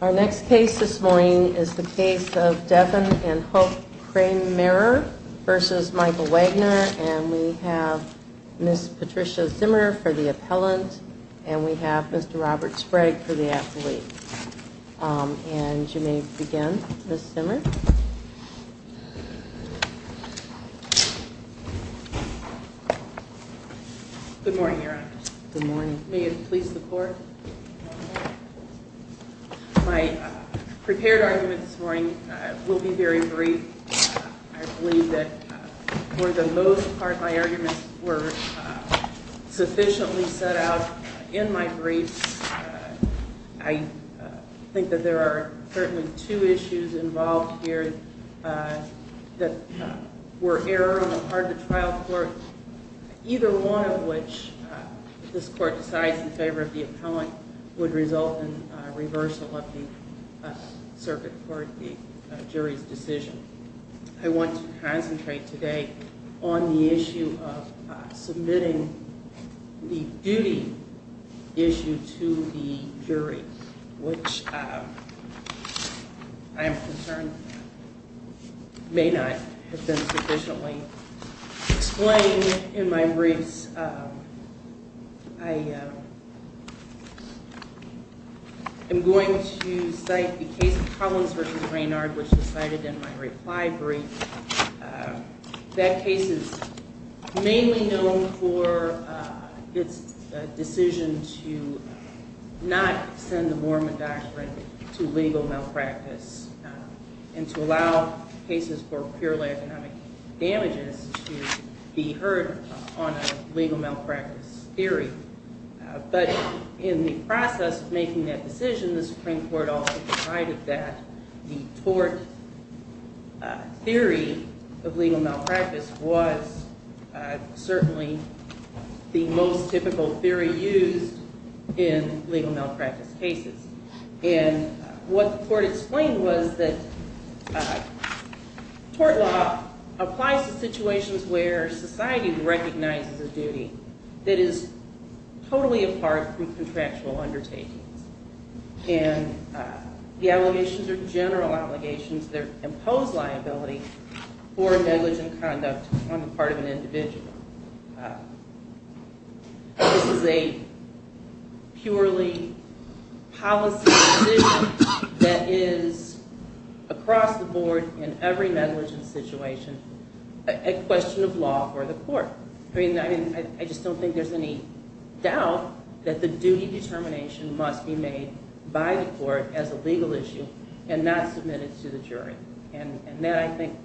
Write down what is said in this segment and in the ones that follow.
Our next case this morning is the case of Devin and Hope Kraemmerer v. Michael Wagner And we have Ms. Patricia Zimmer for the appellant and we have Mr. Robert Sprague for the athlete And you may begin, Ms. Zimmer Good morning, Your Honor Good morning May it please the court My prepared argument this morning will be very brief I believe that for the most part my arguments were sufficiently set out in my briefs I think that there are certainly two issues involved here that were error on the part of the trial court Either one of which, if this court decides in favor of the appellant, would result in reversal of the circuit for the jury's decision I want to concentrate today on the issue of submitting the duty issue to the jury Which I am concerned may not have been sufficiently explained in my briefs I am going to cite the case of Collins v. Raynard which was cited in my reply brief That case is mainly known for its decision to not send the Mormon doctrine to legal malpractice And to allow cases for purely economic damages to be heard on a legal malpractice theory But in the process of making that decision, the Supreme Court also decided that the tort theory of legal malpractice was certainly the most typical theory used in legal malpractice cases And what the court explained was that tort law applies to situations where society recognizes a duty that is totally apart from contractual undertakings And the allegations are general allegations that impose liability for negligent conduct on the part of an individual This is a purely policy decision that is across the board in every negligent situation a question of law for the court I just don't think there's any doubt that the duty determination must be made by the court as a legal issue and not submitted to the jury And that I think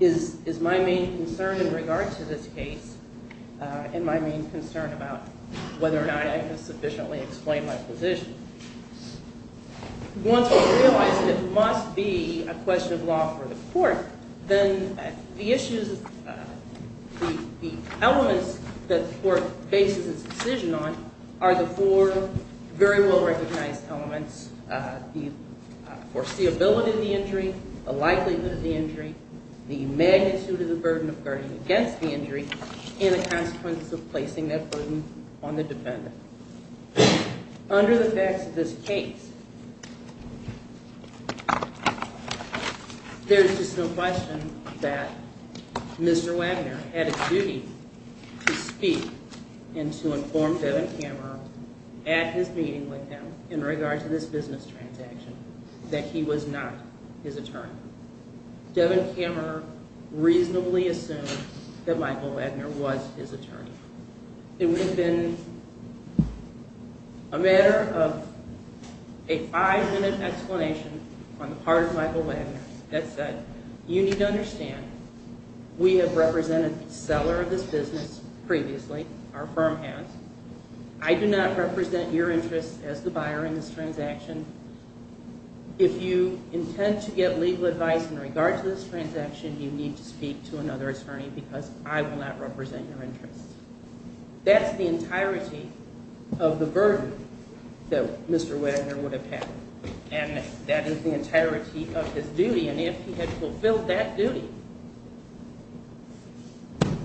is my main concern in regard to this case and my main concern about whether or not I can sufficiently explain my position Once I realized that it must be a question of law for the court, then the issues, the elements that the court bases its decision on are the four very well-recognized elements The foreseeability of the injury, the likelihood of the injury, the magnitude of the burden of guarding against the injury, and the consequence of placing that burden on the defendant Under the facts of this case, there's just no question that Mr. Wagner had a duty to speak and to inform Devin Kammerer at his meeting with him in regard to this business transaction That he was not his attorney. Devin Kammerer reasonably assumed that Michael Wagner was his attorney It would have been a matter of a five-minute explanation on the part of Michael Wagner that said, You need to understand, we have represented the seller of this business previously, our firm has I do not represent your interests as the buyer in this transaction If you intend to get legal advice in regard to this transaction, you need to speak to another attorney because I will not represent your interests That's the entirety of the burden that Mr. Wagner would have had And that is the entirety of his duty, and if he had fulfilled that duty,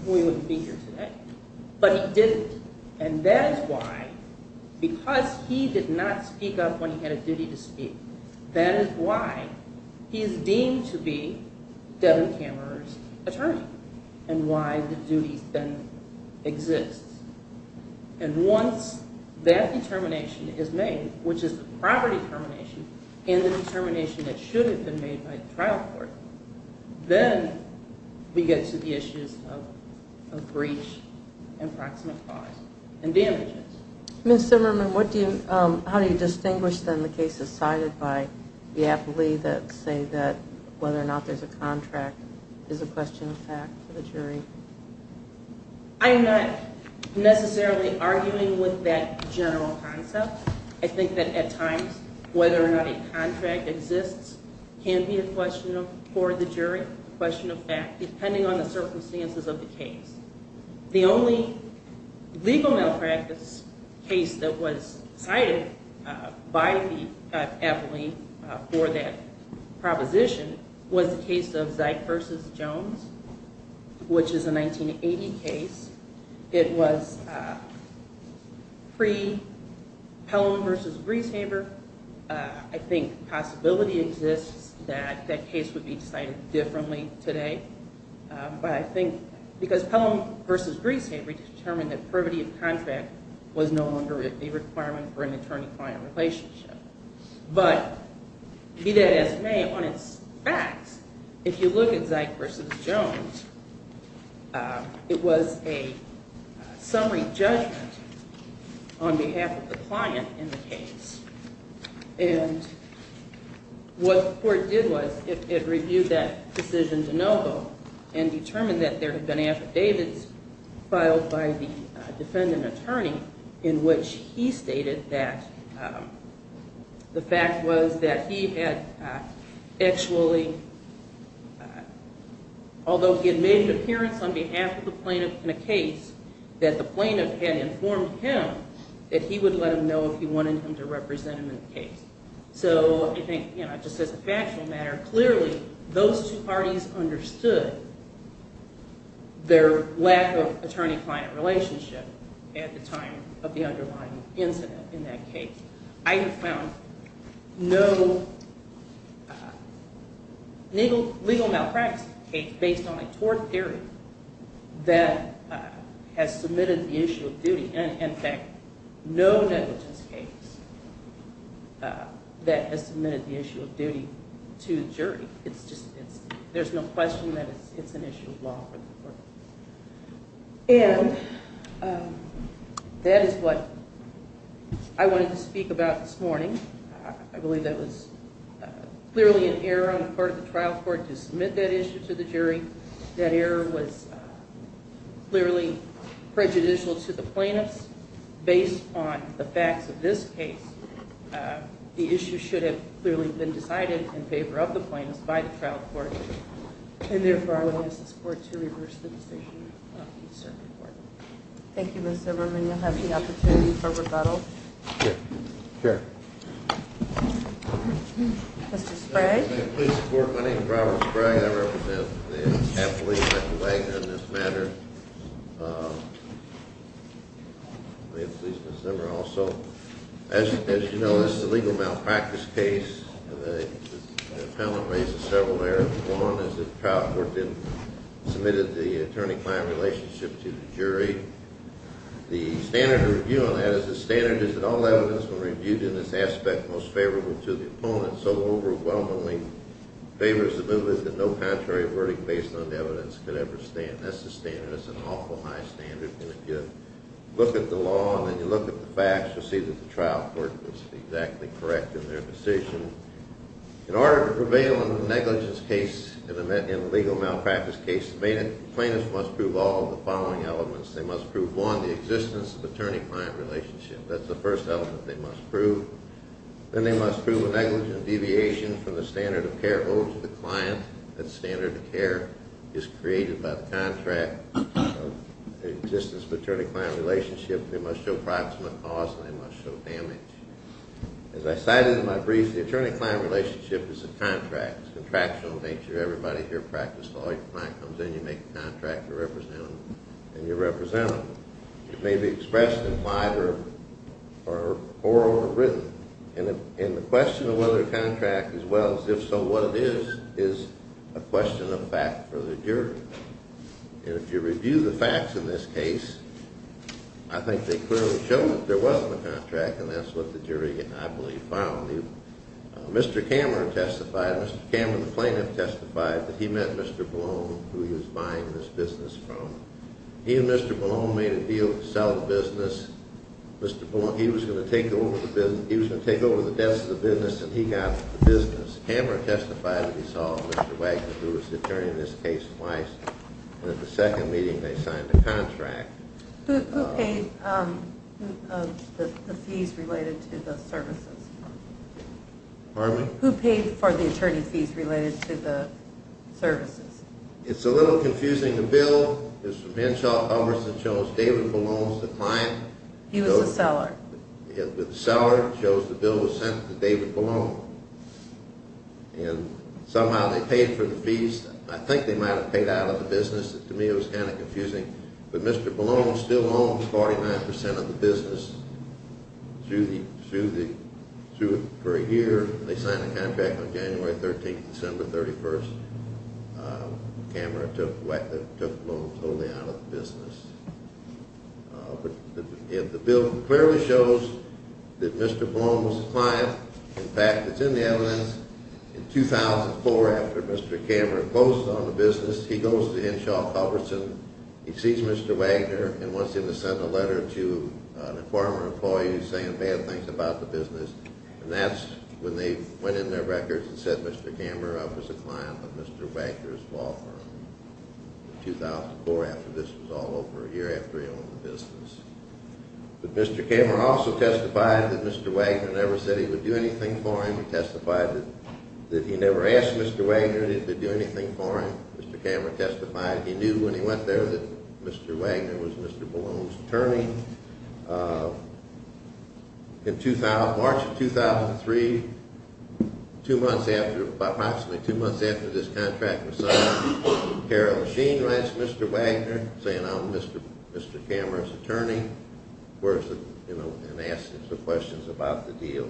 we wouldn't be here today But he didn't, and that is why, because he did not speak up when he had a duty to speak, that is why he is deemed to be Devin Kammerer's attorney And why the duty then exists And once that determination is made, which is the property determination, and the determination that should have been made by the trial court Then we get to the issues of breach, improximate cause, and damages Ms. Zimmerman, how do you distinguish the cases cited by the appellee that say that whether or not there is a contract is a question of fact for the jury? I am not necessarily arguing with that general concept I think that at times, whether or not a contract exists can be a question for the jury, a question of fact, depending on the circumstances of the case The only legal malpractice case that was cited by the appellee for that proposition was the case of Zeick v. Jones, which is a 1980 case It was pre-Pelham v. Grieshaber I think the possibility exists that that case would be cited differently today Because Pelham v. Grieshaber determined that privity of contract was no longer a requirement for an attorney-client relationship But be that as it may, on its facts, if you look at Zeick v. Jones, it was a summary judgment on behalf of the client in the case What the court did was it reviewed that decision de novo and determined that there had been affidavits filed by the defendant attorney In which he stated that the fact was that he had actually, although he had made an appearance on behalf of the plaintiff in a case That the plaintiff had informed him that he would let him know if he wanted him to represent him in the case So I think just as a factual matter, clearly those two parties understood their lack of attorney-client relationship at the time of the underlying incident in that case I have found no legal malpractice case based on a tort theory that has submitted the issue of duty And in fact, no negligence case that has submitted the issue of duty to the jury There's no question that it's an issue of law for the court And that is what I wanted to speak about this morning I believe that was clearly an error on the part of the trial court to submit that issue to the jury I believe that error was clearly prejudicial to the plaintiffs Based on the facts of this case, the issue should have clearly been decided in favor of the plaintiffs by the trial court And therefore I would ask this court to reverse the decision of the circuit court Thank you Ms. Zimmerman, you'll have the opportunity for rebuttal Sure Mr. Sprague My name is Robert Sprague, I represent the appellate, Michael Wagner, in this matter May it please Ms. Zimmerman Also, as you know, this is a legal malpractice case The appellant raises several errors One is that the trial court didn't submit the attorney-client relationship to the jury The standard review on that is that all evidence was reviewed in this aspect most favorable to the opponent So overwhelmingly, favorability is that no contrary verdict based on the evidence could ever stand That's the standard, it's an awful high standard And if you look at the law and then you look at the facts, you'll see that the trial court was exactly correct in their decision In order to prevail in a negligence case, in a legal malpractice case The plaintiffs must prove all of the following elements They must prove, one, the existence of the attorney-client relationship That's the first element they must prove Then they must prove a negligent deviation from the standard of care owed to the client That standard of care is created by the contract The existence of the attorney-client relationship They must show proximate cause and they must show damage As I cited in my brief, the attorney-client relationship is a contract It's a contractual nature, everybody here practiced law Your client comes in, you make the contract, you represent them And you represent them It may be expressed implied or oral or written And the question of whether the contract is well is, if so, what it is, is a question of fact for the jury And if you review the facts in this case, I think they clearly show that there wasn't a contract And that's what the jury, I believe, found Mr. Cameron testified, Mr. Cameron the plaintiff testified That he met Mr. Ballone, who he was buying this business from He and Mr. Ballone made a deal to sell the business Mr. Ballone, he was going to take over the business, he was going to take over the debts of the business And he got the business Cameron testified that he saw Mr. Wagner, who was the attorney in this case, twice And at the second meeting they signed a contract Who paid the fees related to the services? Pardon me? Who paid for the attorney fees related to the services? It's a little confusing, the bill is from Inchoff-Hummerson shows David Ballone was the client He was the seller The seller shows the bill was sent to David Ballone And somehow they paid for the fees, I think they might have paid out of the business To me it was kind of confusing But Mr. Ballone still owns 49% of the business For a year, they signed a contract on January 13th, December 31st Cameron took Ballone totally out of the business The bill clearly shows that Mr. Ballone was the client In fact, it's in the evidence In 2004, after Mr. Cameron closed on the business, he goes to Inchoff-Hummerson He sees Mr. Wagner and wants him to send a letter to a former employee saying bad things about the business And that's when they went in their records and said Mr. Cameron was a client of Mr. Wagner's law firm In 2004, after this was all over, a year after he owned the business But Mr. Cameron also testified that Mr. Wagner never said he would do anything for him He testified that he never asked Mr. Wagner that he would do anything for him Mr. Cameron testified he knew when he went there that Mr. Wagner was Mr. Ballone's attorney In March of 2003, approximately two months after this contract was signed Carol Sheen writes Mr. Wagner saying I'm Mr. Cameron's attorney And asks him some questions about the deal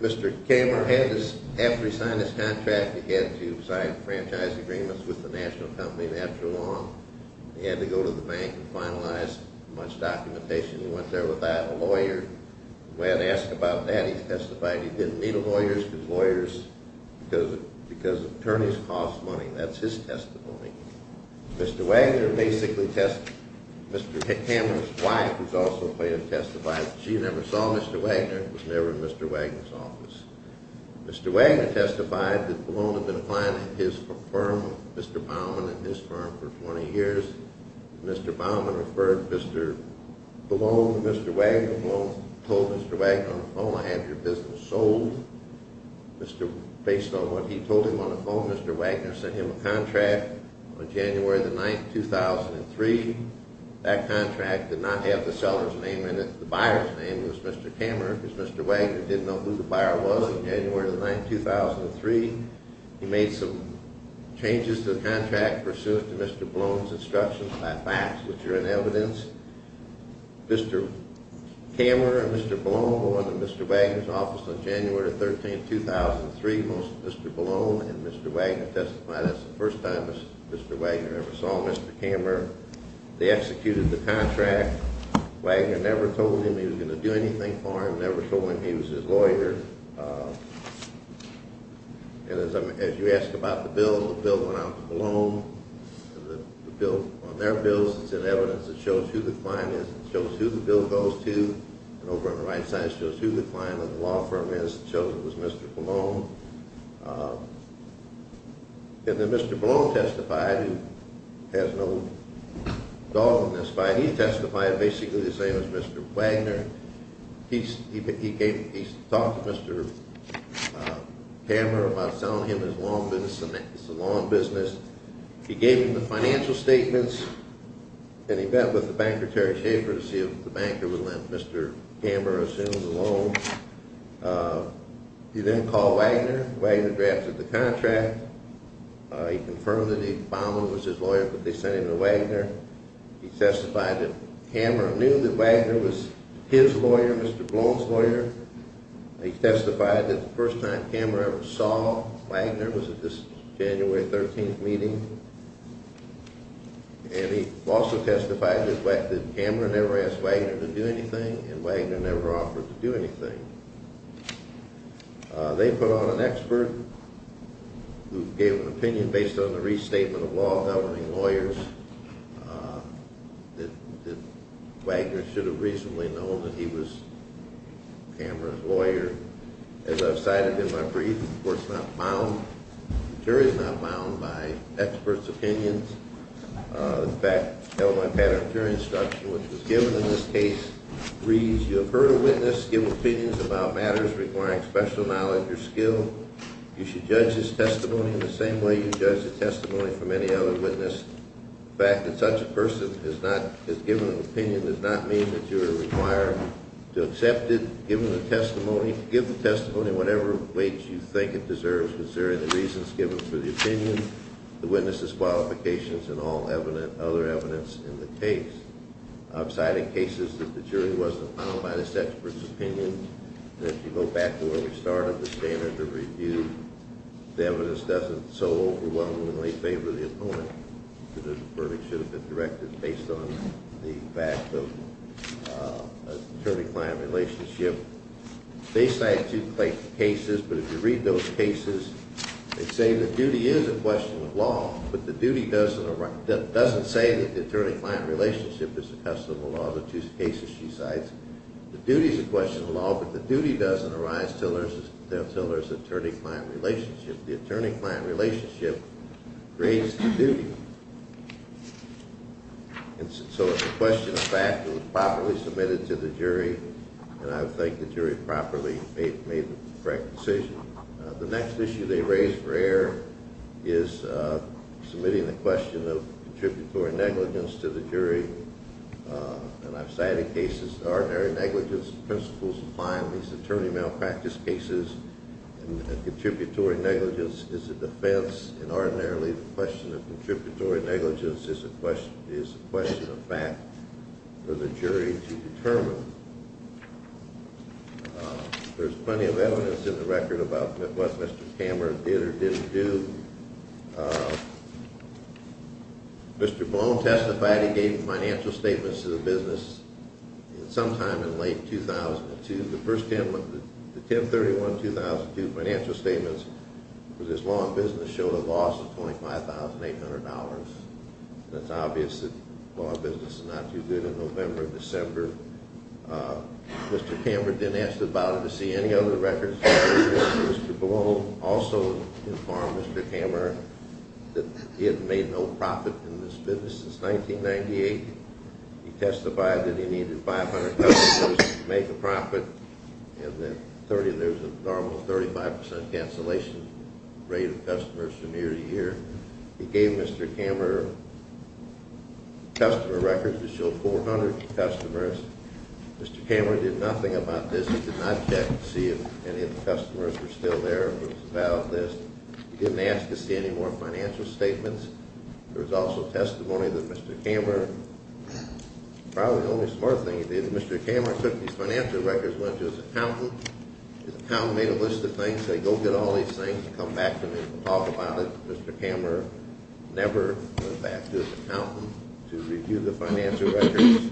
Mr. Cameron, after he signed this contract, he had to sign franchise agreements with the national company And after long, he had to go to the bank and finalize much documentation He went there without a lawyer When asked about that, he testified he didn't need a lawyer Because attorneys cost money, that's his testimony Mr. Wagner basically testified, Mr. Cameron's wife who's also a plaintiff testified She never saw Mr. Wagner, was never in Mr. Wagner's office Mr. Wagner testified that Ballone had been a client of his firm, Mr. Baumann and his firm for 20 years Mr. Baumann referred Mr. Ballone to Mr. Wagner Ballone told Mr. Wagner on the phone, I have your business sold Based on what he told him on the phone, Mr. Wagner sent him a contract on January 9, 2003 That contract did not have the seller's name in it The buyer's name was Mr. Cameron Because Mr. Wagner didn't know who the buyer was on January 9, 2003 He made some changes to the contract pursuant to Mr. Ballone's instructions by fax Which are in evidence Mr. Cameron and Mr. Ballone were in Mr. Wagner's office on January 13, 2003 Most of Mr. Ballone and Mr. Wagner testified That's the first time Mr. Wagner ever saw Mr. Cameron They executed the contract Wagner never told him he was going to do anything for him Never told him he was his lawyer And as you asked about the bill, the bill went out to Ballone On their bills it's in evidence It shows who the client is, it shows who the bill goes to And over on the right side it shows who the client of the law firm is It shows it was Mr. Ballone And then Mr. Ballone testified Who has no dog in this fight He testified basically the same as Mr. Wagner He talked to Mr. Cameron about selling him his lawn business He gave him the financial statements And he met with the banker Terry Schaefer to see if the banker would let Mr. Cameron assume the loan He then called Wagner Wagner drafted the contract He confirmed that Ballone was his lawyer but they sent him to Wagner He testified that Cameron knew that Wagner was his lawyer, Mr. Ballone's lawyer He testified that the first time Cameron ever saw Wagner Was at this January 13th meeting And he also testified that Cameron never asked Wagner to do anything And Wagner never offered to do anything They put on an expert who gave an opinion based on the restatement of law Helping lawyers As I've cited in my brief, the court's not bound The jury's not bound by experts' opinions In fact, Illinois Patent and Jury Instruction, which was given in this case Reads, you have heard a witness give opinions about matters requiring special knowledge or skill You should judge his testimony in the same way you judge the testimony from any other witness The fact that such a person has given an opinion does not mean that you are required to accept it To give the testimony in whatever weight you think it deserves Considering the reasons given for the opinion, the witness's qualifications, and all other evidence in the case I've cited cases that the jury wasn't bound by this expert's opinion And if you go back to where we started, the standard of review The evidence doesn't so overwhelmingly favor the opponent The verdict should have been directed based on the fact of attorney-client relationship They cite two cases, but if you read those cases They say the duty is a question of law But the duty doesn't say that the attorney-client relationship is a custom of law The two cases she cites, the duty is a question of law But the duty doesn't arise until there's an attorney-client relationship The attorney-client relationship creates the duty And so it's a question of fact that was properly submitted to the jury And I would think the jury properly made the correct decision The next issue they raised for error is submitting the question of contributory negligence to the jury And I've cited cases of ordinary negligence Principles apply in these attorney malpractice cases And contributory negligence is a defense And ordinarily the question of contributory negligence is a question of fact for the jury to determine There's plenty of evidence in the record about what Mr. Kammerer did or didn't do Mr. Blum testified he gave financial statements to the business sometime in late 2002 The 10-31-2002 financial statements for this law and business showed a loss of $25,800 And it's obvious that law and business is not too good in November and December Mr. Kammerer didn't ask about it to see any other records Mr. Blum also informed Mr. Kammerer that he had made no profit in this business since 1998 He testified that he needed 500 customers to make a profit And there was a normal 35% cancellation rate of customers for nearly a year He gave Mr. Kammerer customer records that showed 400 customers Mr. Kammerer did nothing about this He did not check to see if any of the customers were still there He didn't ask to see any more financial statements There was also testimony that Mr. Kammerer Probably the only smart thing he did, Mr. Kammerer took these financial records and went to his accountant His accountant made a list of things and said go get all these things and come back to me and talk about it Mr. Kammerer never went back to his accountant to review the financial records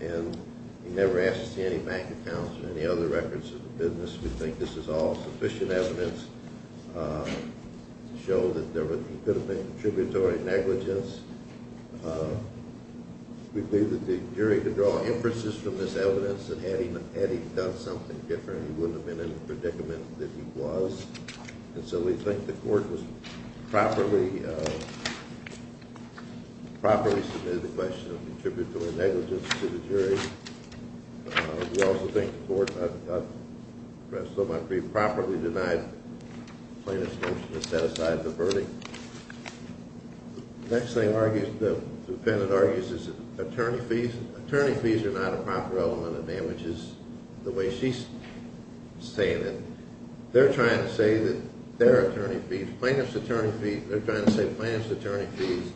And he never asked to see any bank accounts or any other records of the business We think this is all sufficient evidence to show that there could have been contributory negligence We believe that the jury could draw inferences from this evidence And had he done something different he wouldn't have been in the predicament that he was And so we think the court was properly submitted the question of contributory negligence to the jury We also think the court, I've expressed so much grief, properly denied the plaintiff's motion to set aside the verdict The next thing the defendant argues is attorney fees Attorney fees are not a proper element of damages the way she's saying it They're trying to say that their attorney fees, plaintiff's attorney fees They're trying to say plaintiff's attorney fees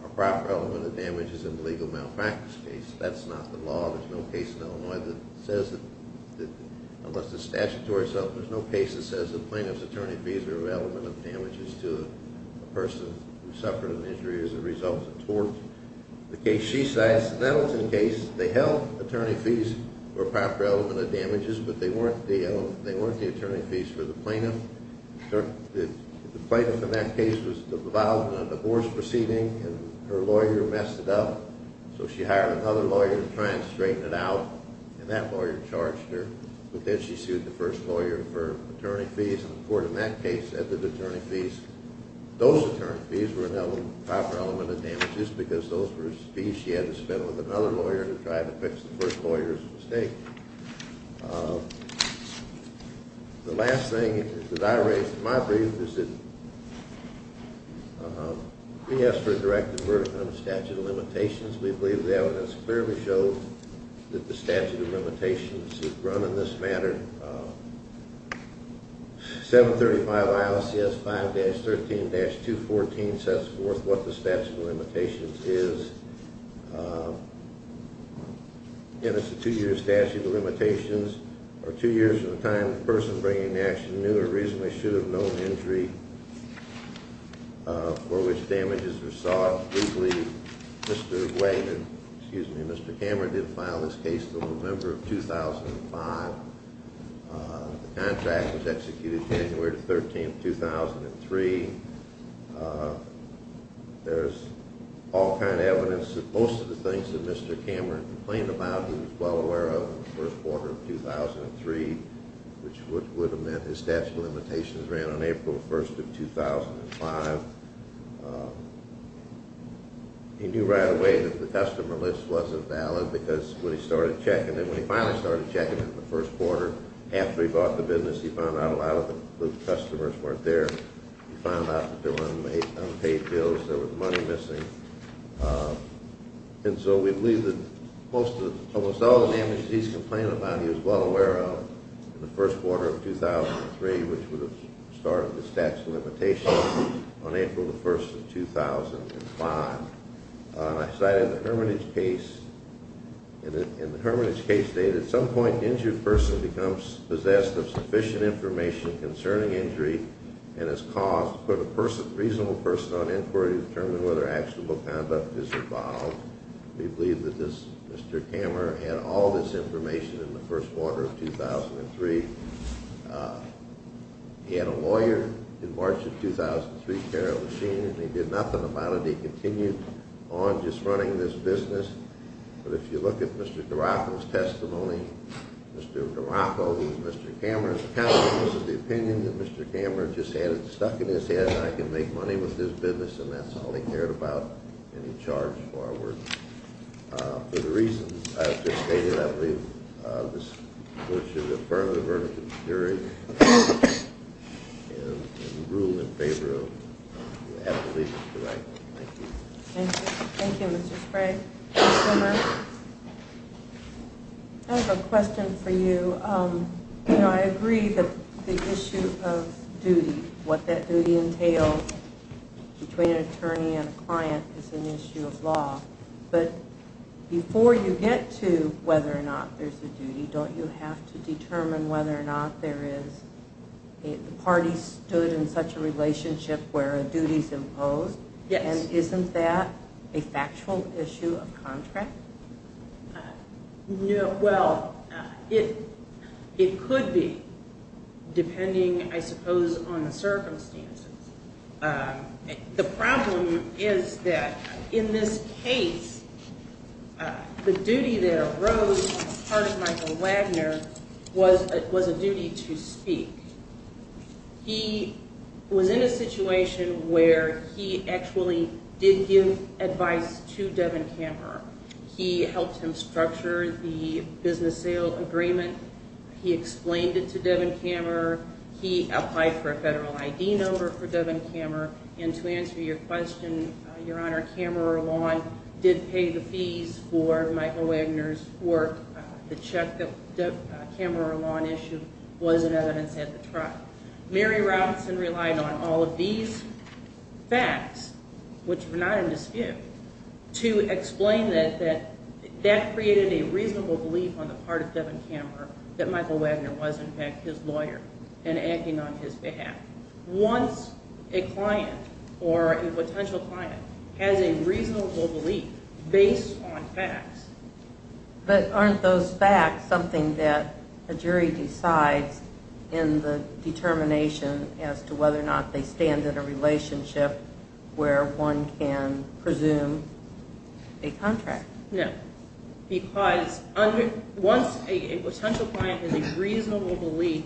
are a proper element of damages in the legal malpractice case That's not the law, there's no case in Illinois that says that, unless it's statutory itself There's no case that says that plaintiff's attorney fees are an element of damages to a person who suffered an injury as a result of tort The case she says, the Nettleton case, they held attorney fees were a proper element of damages But they weren't the attorney fees for the plaintiff The plaintiff in that case was involved in a divorce proceeding and her lawyer messed it up So she hired another lawyer to try and straighten it out and that lawyer charged her But then she sued the first lawyer for attorney fees and the court in that case said that attorney fees Those attorney fees were a proper element of damages because those were fees she had to spend with another lawyer to try to fix the first lawyer's mistake The last thing that I raised in my brief is that we asked for a directed verdict on the statute of limitations We believe the evidence clearly shows that the statute of limitations is run in this manner 735 ILCS 5-13-214 sets forth what the statute of limitations is Again, it's a two year statute of limitations or two years from the time the person bringing the action knew or reasonably should have known injury For which damages were sought We believe Mr. Wagner, excuse me, Mr. Cameron did file this case in November of 2005 The contract was executed January 13, 2003 There's all kind of evidence that most of the things that Mr. Cameron complained about he was well aware of in the first quarter of 2003 Which would have meant his statute of limitations ran on April 1, 2005 He knew right away that the customer list wasn't valid because when he started checking it, when he finally started checking it in the first quarter After he bought the business he found out a lot of the customers weren't there He found out that there were unpaid bills, there was money missing And so we believe that most of, almost all the damages he's complained about he was well aware of in the first quarter of 2003 Which would have started the statute of limitations on April 1, 2005 I cited the Hermitage case In the Hermitage case they said at some point the injured person becomes possessed of sufficient information concerning injury And is caused to put a reasonable person on inquiry to determine whether actual conduct is involved We believe that Mr. Cameron had all this information in the first quarter of 2003 He had a lawyer in March of 2003, Carol Machine, and he did nothing about it He continued on just running this business But if you look at Mr. Duraco's testimony Mr. Duraco, who was Mr. Cameron's accountant, was of the opinion that Mr. Cameron just had it stuck in his head I can make money with this business and that's all he cared about And he charged forward For the reasons I've just stated, I believe this is a firm of the Hermitage Jury And we rule in favor of the appellate lease to the right Thank you Thank you, Mr. Sprague I have a question for you You know, I agree that the issue of duty, what that duty entails Between an attorney and a client is an issue of law But before you get to whether or not there's a duty Don't you have to determine whether or not there is The parties stood in such a relationship where a duty's imposed Yes And isn't that a factual issue of contract? No, well, it could be Depending, I suppose, on the circumstances The problem is that in this case The duty that arose on the part of Michael Wagner Was a duty to speak He was in a situation where he actually did give advice to Devin Kammerer He helped him structure the business sale agreement He explained it to Devin Kammerer He applied for a federal ID number for Devin Kammerer And to answer your question, Your Honor, Kammerer Lawn did pay the fees for Michael Wagner's work The check that Kammerer Lawn issued was an evidence at the trial Mary Robinson relied on all of these facts, which were not in dispute To explain that that created a reasonable belief on the part of Devin Kammerer That Michael Wagner was, in fact, his lawyer and acting on his behalf Once a client, or a potential client, has a reasonable belief based on facts But aren't those facts something that a jury decides in the determination As to whether or not they stand in a relationship where one can presume a contract No, because once a potential client has a reasonable belief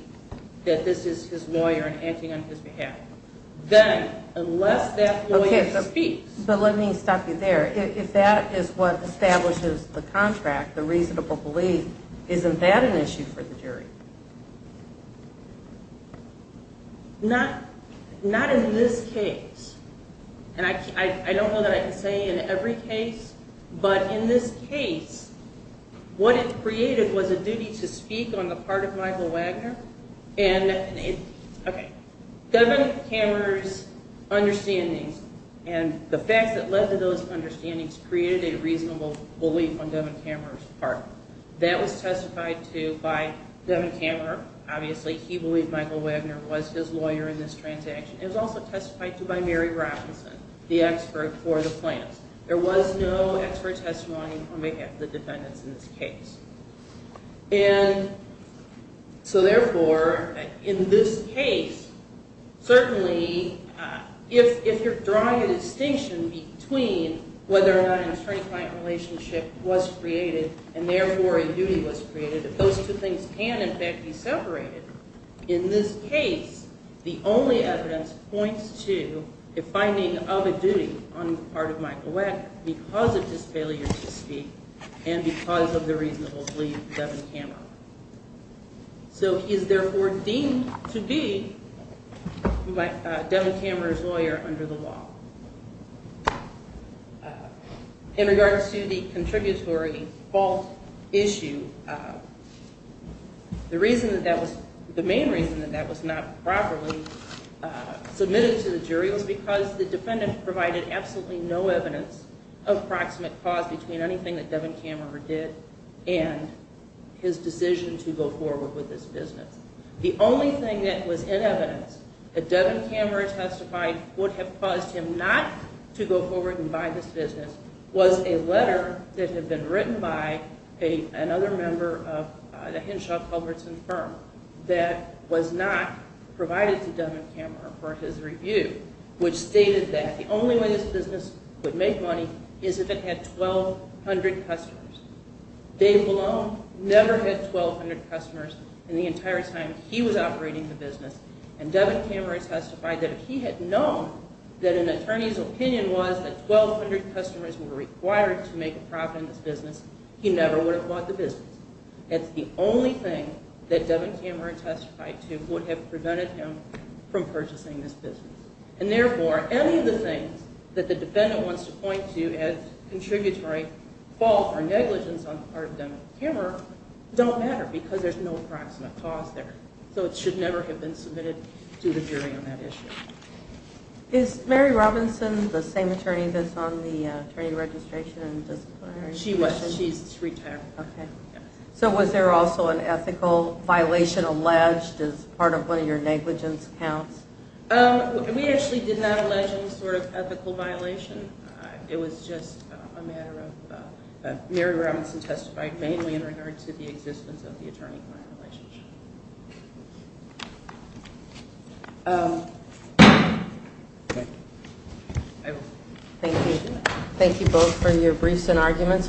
that this is his lawyer and acting on his behalf Then, unless that lawyer speaks But let me stop you there If that is what establishes the contract, the reasonable belief Isn't that an issue for the jury? Not in this case And I don't know that I can say in every case But in this case, what it created was a duty to speak on the part of Michael Wagner And Devin Kammerer's understandings And the facts that led to those understandings created a reasonable belief on Devin Kammerer's part That was testified to by Devin Kammerer Obviously, he believed Michael Wagner was his lawyer in this transaction It was also testified to by Mary Robinson, the expert for the plaintiffs There was no expert testimony on behalf of the defendants in this case And so therefore, in this case Certainly, if you're drawing a distinction between whether or not an attorney-client relationship was created And therefore a duty was created If those two things can in fact be separated In this case, the only evidence points to a finding of a duty on the part of Michael Wagner Because of his failure to speak and because of the reasonable belief of Devin Kammerer So he is therefore deemed to be Devin Kammerer's lawyer under the law In regards to the contributory fault issue The main reason that that was not properly submitted to the jury Was because the defendant provided absolutely no evidence of proximate cause Between anything that Devin Kammerer did and his decision to go forward with this business The only thing that was in evidence that Devin Kammerer testified Would have caused him not to go forward and buy this business Was a letter that had been written by another member of the Henshaw Culbertson firm That was not provided to Devin Kammerer for his review Which stated that the only way this business would make money Is if it had 1,200 customers Dave Malone never had 1,200 customers in the entire time he was operating the business And Devin Kammerer testified that if he had known that an attorney's opinion was That 1,200 customers were required to make a profit in this business He never would have bought the business That's the only thing that Devin Kammerer testified to Would have prevented him from purchasing this business And therefore, any of the things that the defendant wants to point to As contributory fault or negligence on the part of Devin Kammerer Don't matter because there's no proximate cause there So it should never have been submitted to the jury on that issue Is Mary Robinson the same attorney that's on the attorney registration? She was and she's retired So was there also an ethical violation alleged as part of one of your negligence counts? We actually did not allege any sort of ethical violation It was just a matter of Mary Robinson testified mainly in regard to the existence of the attorney-client relationship Thank you both for your briefs and arguments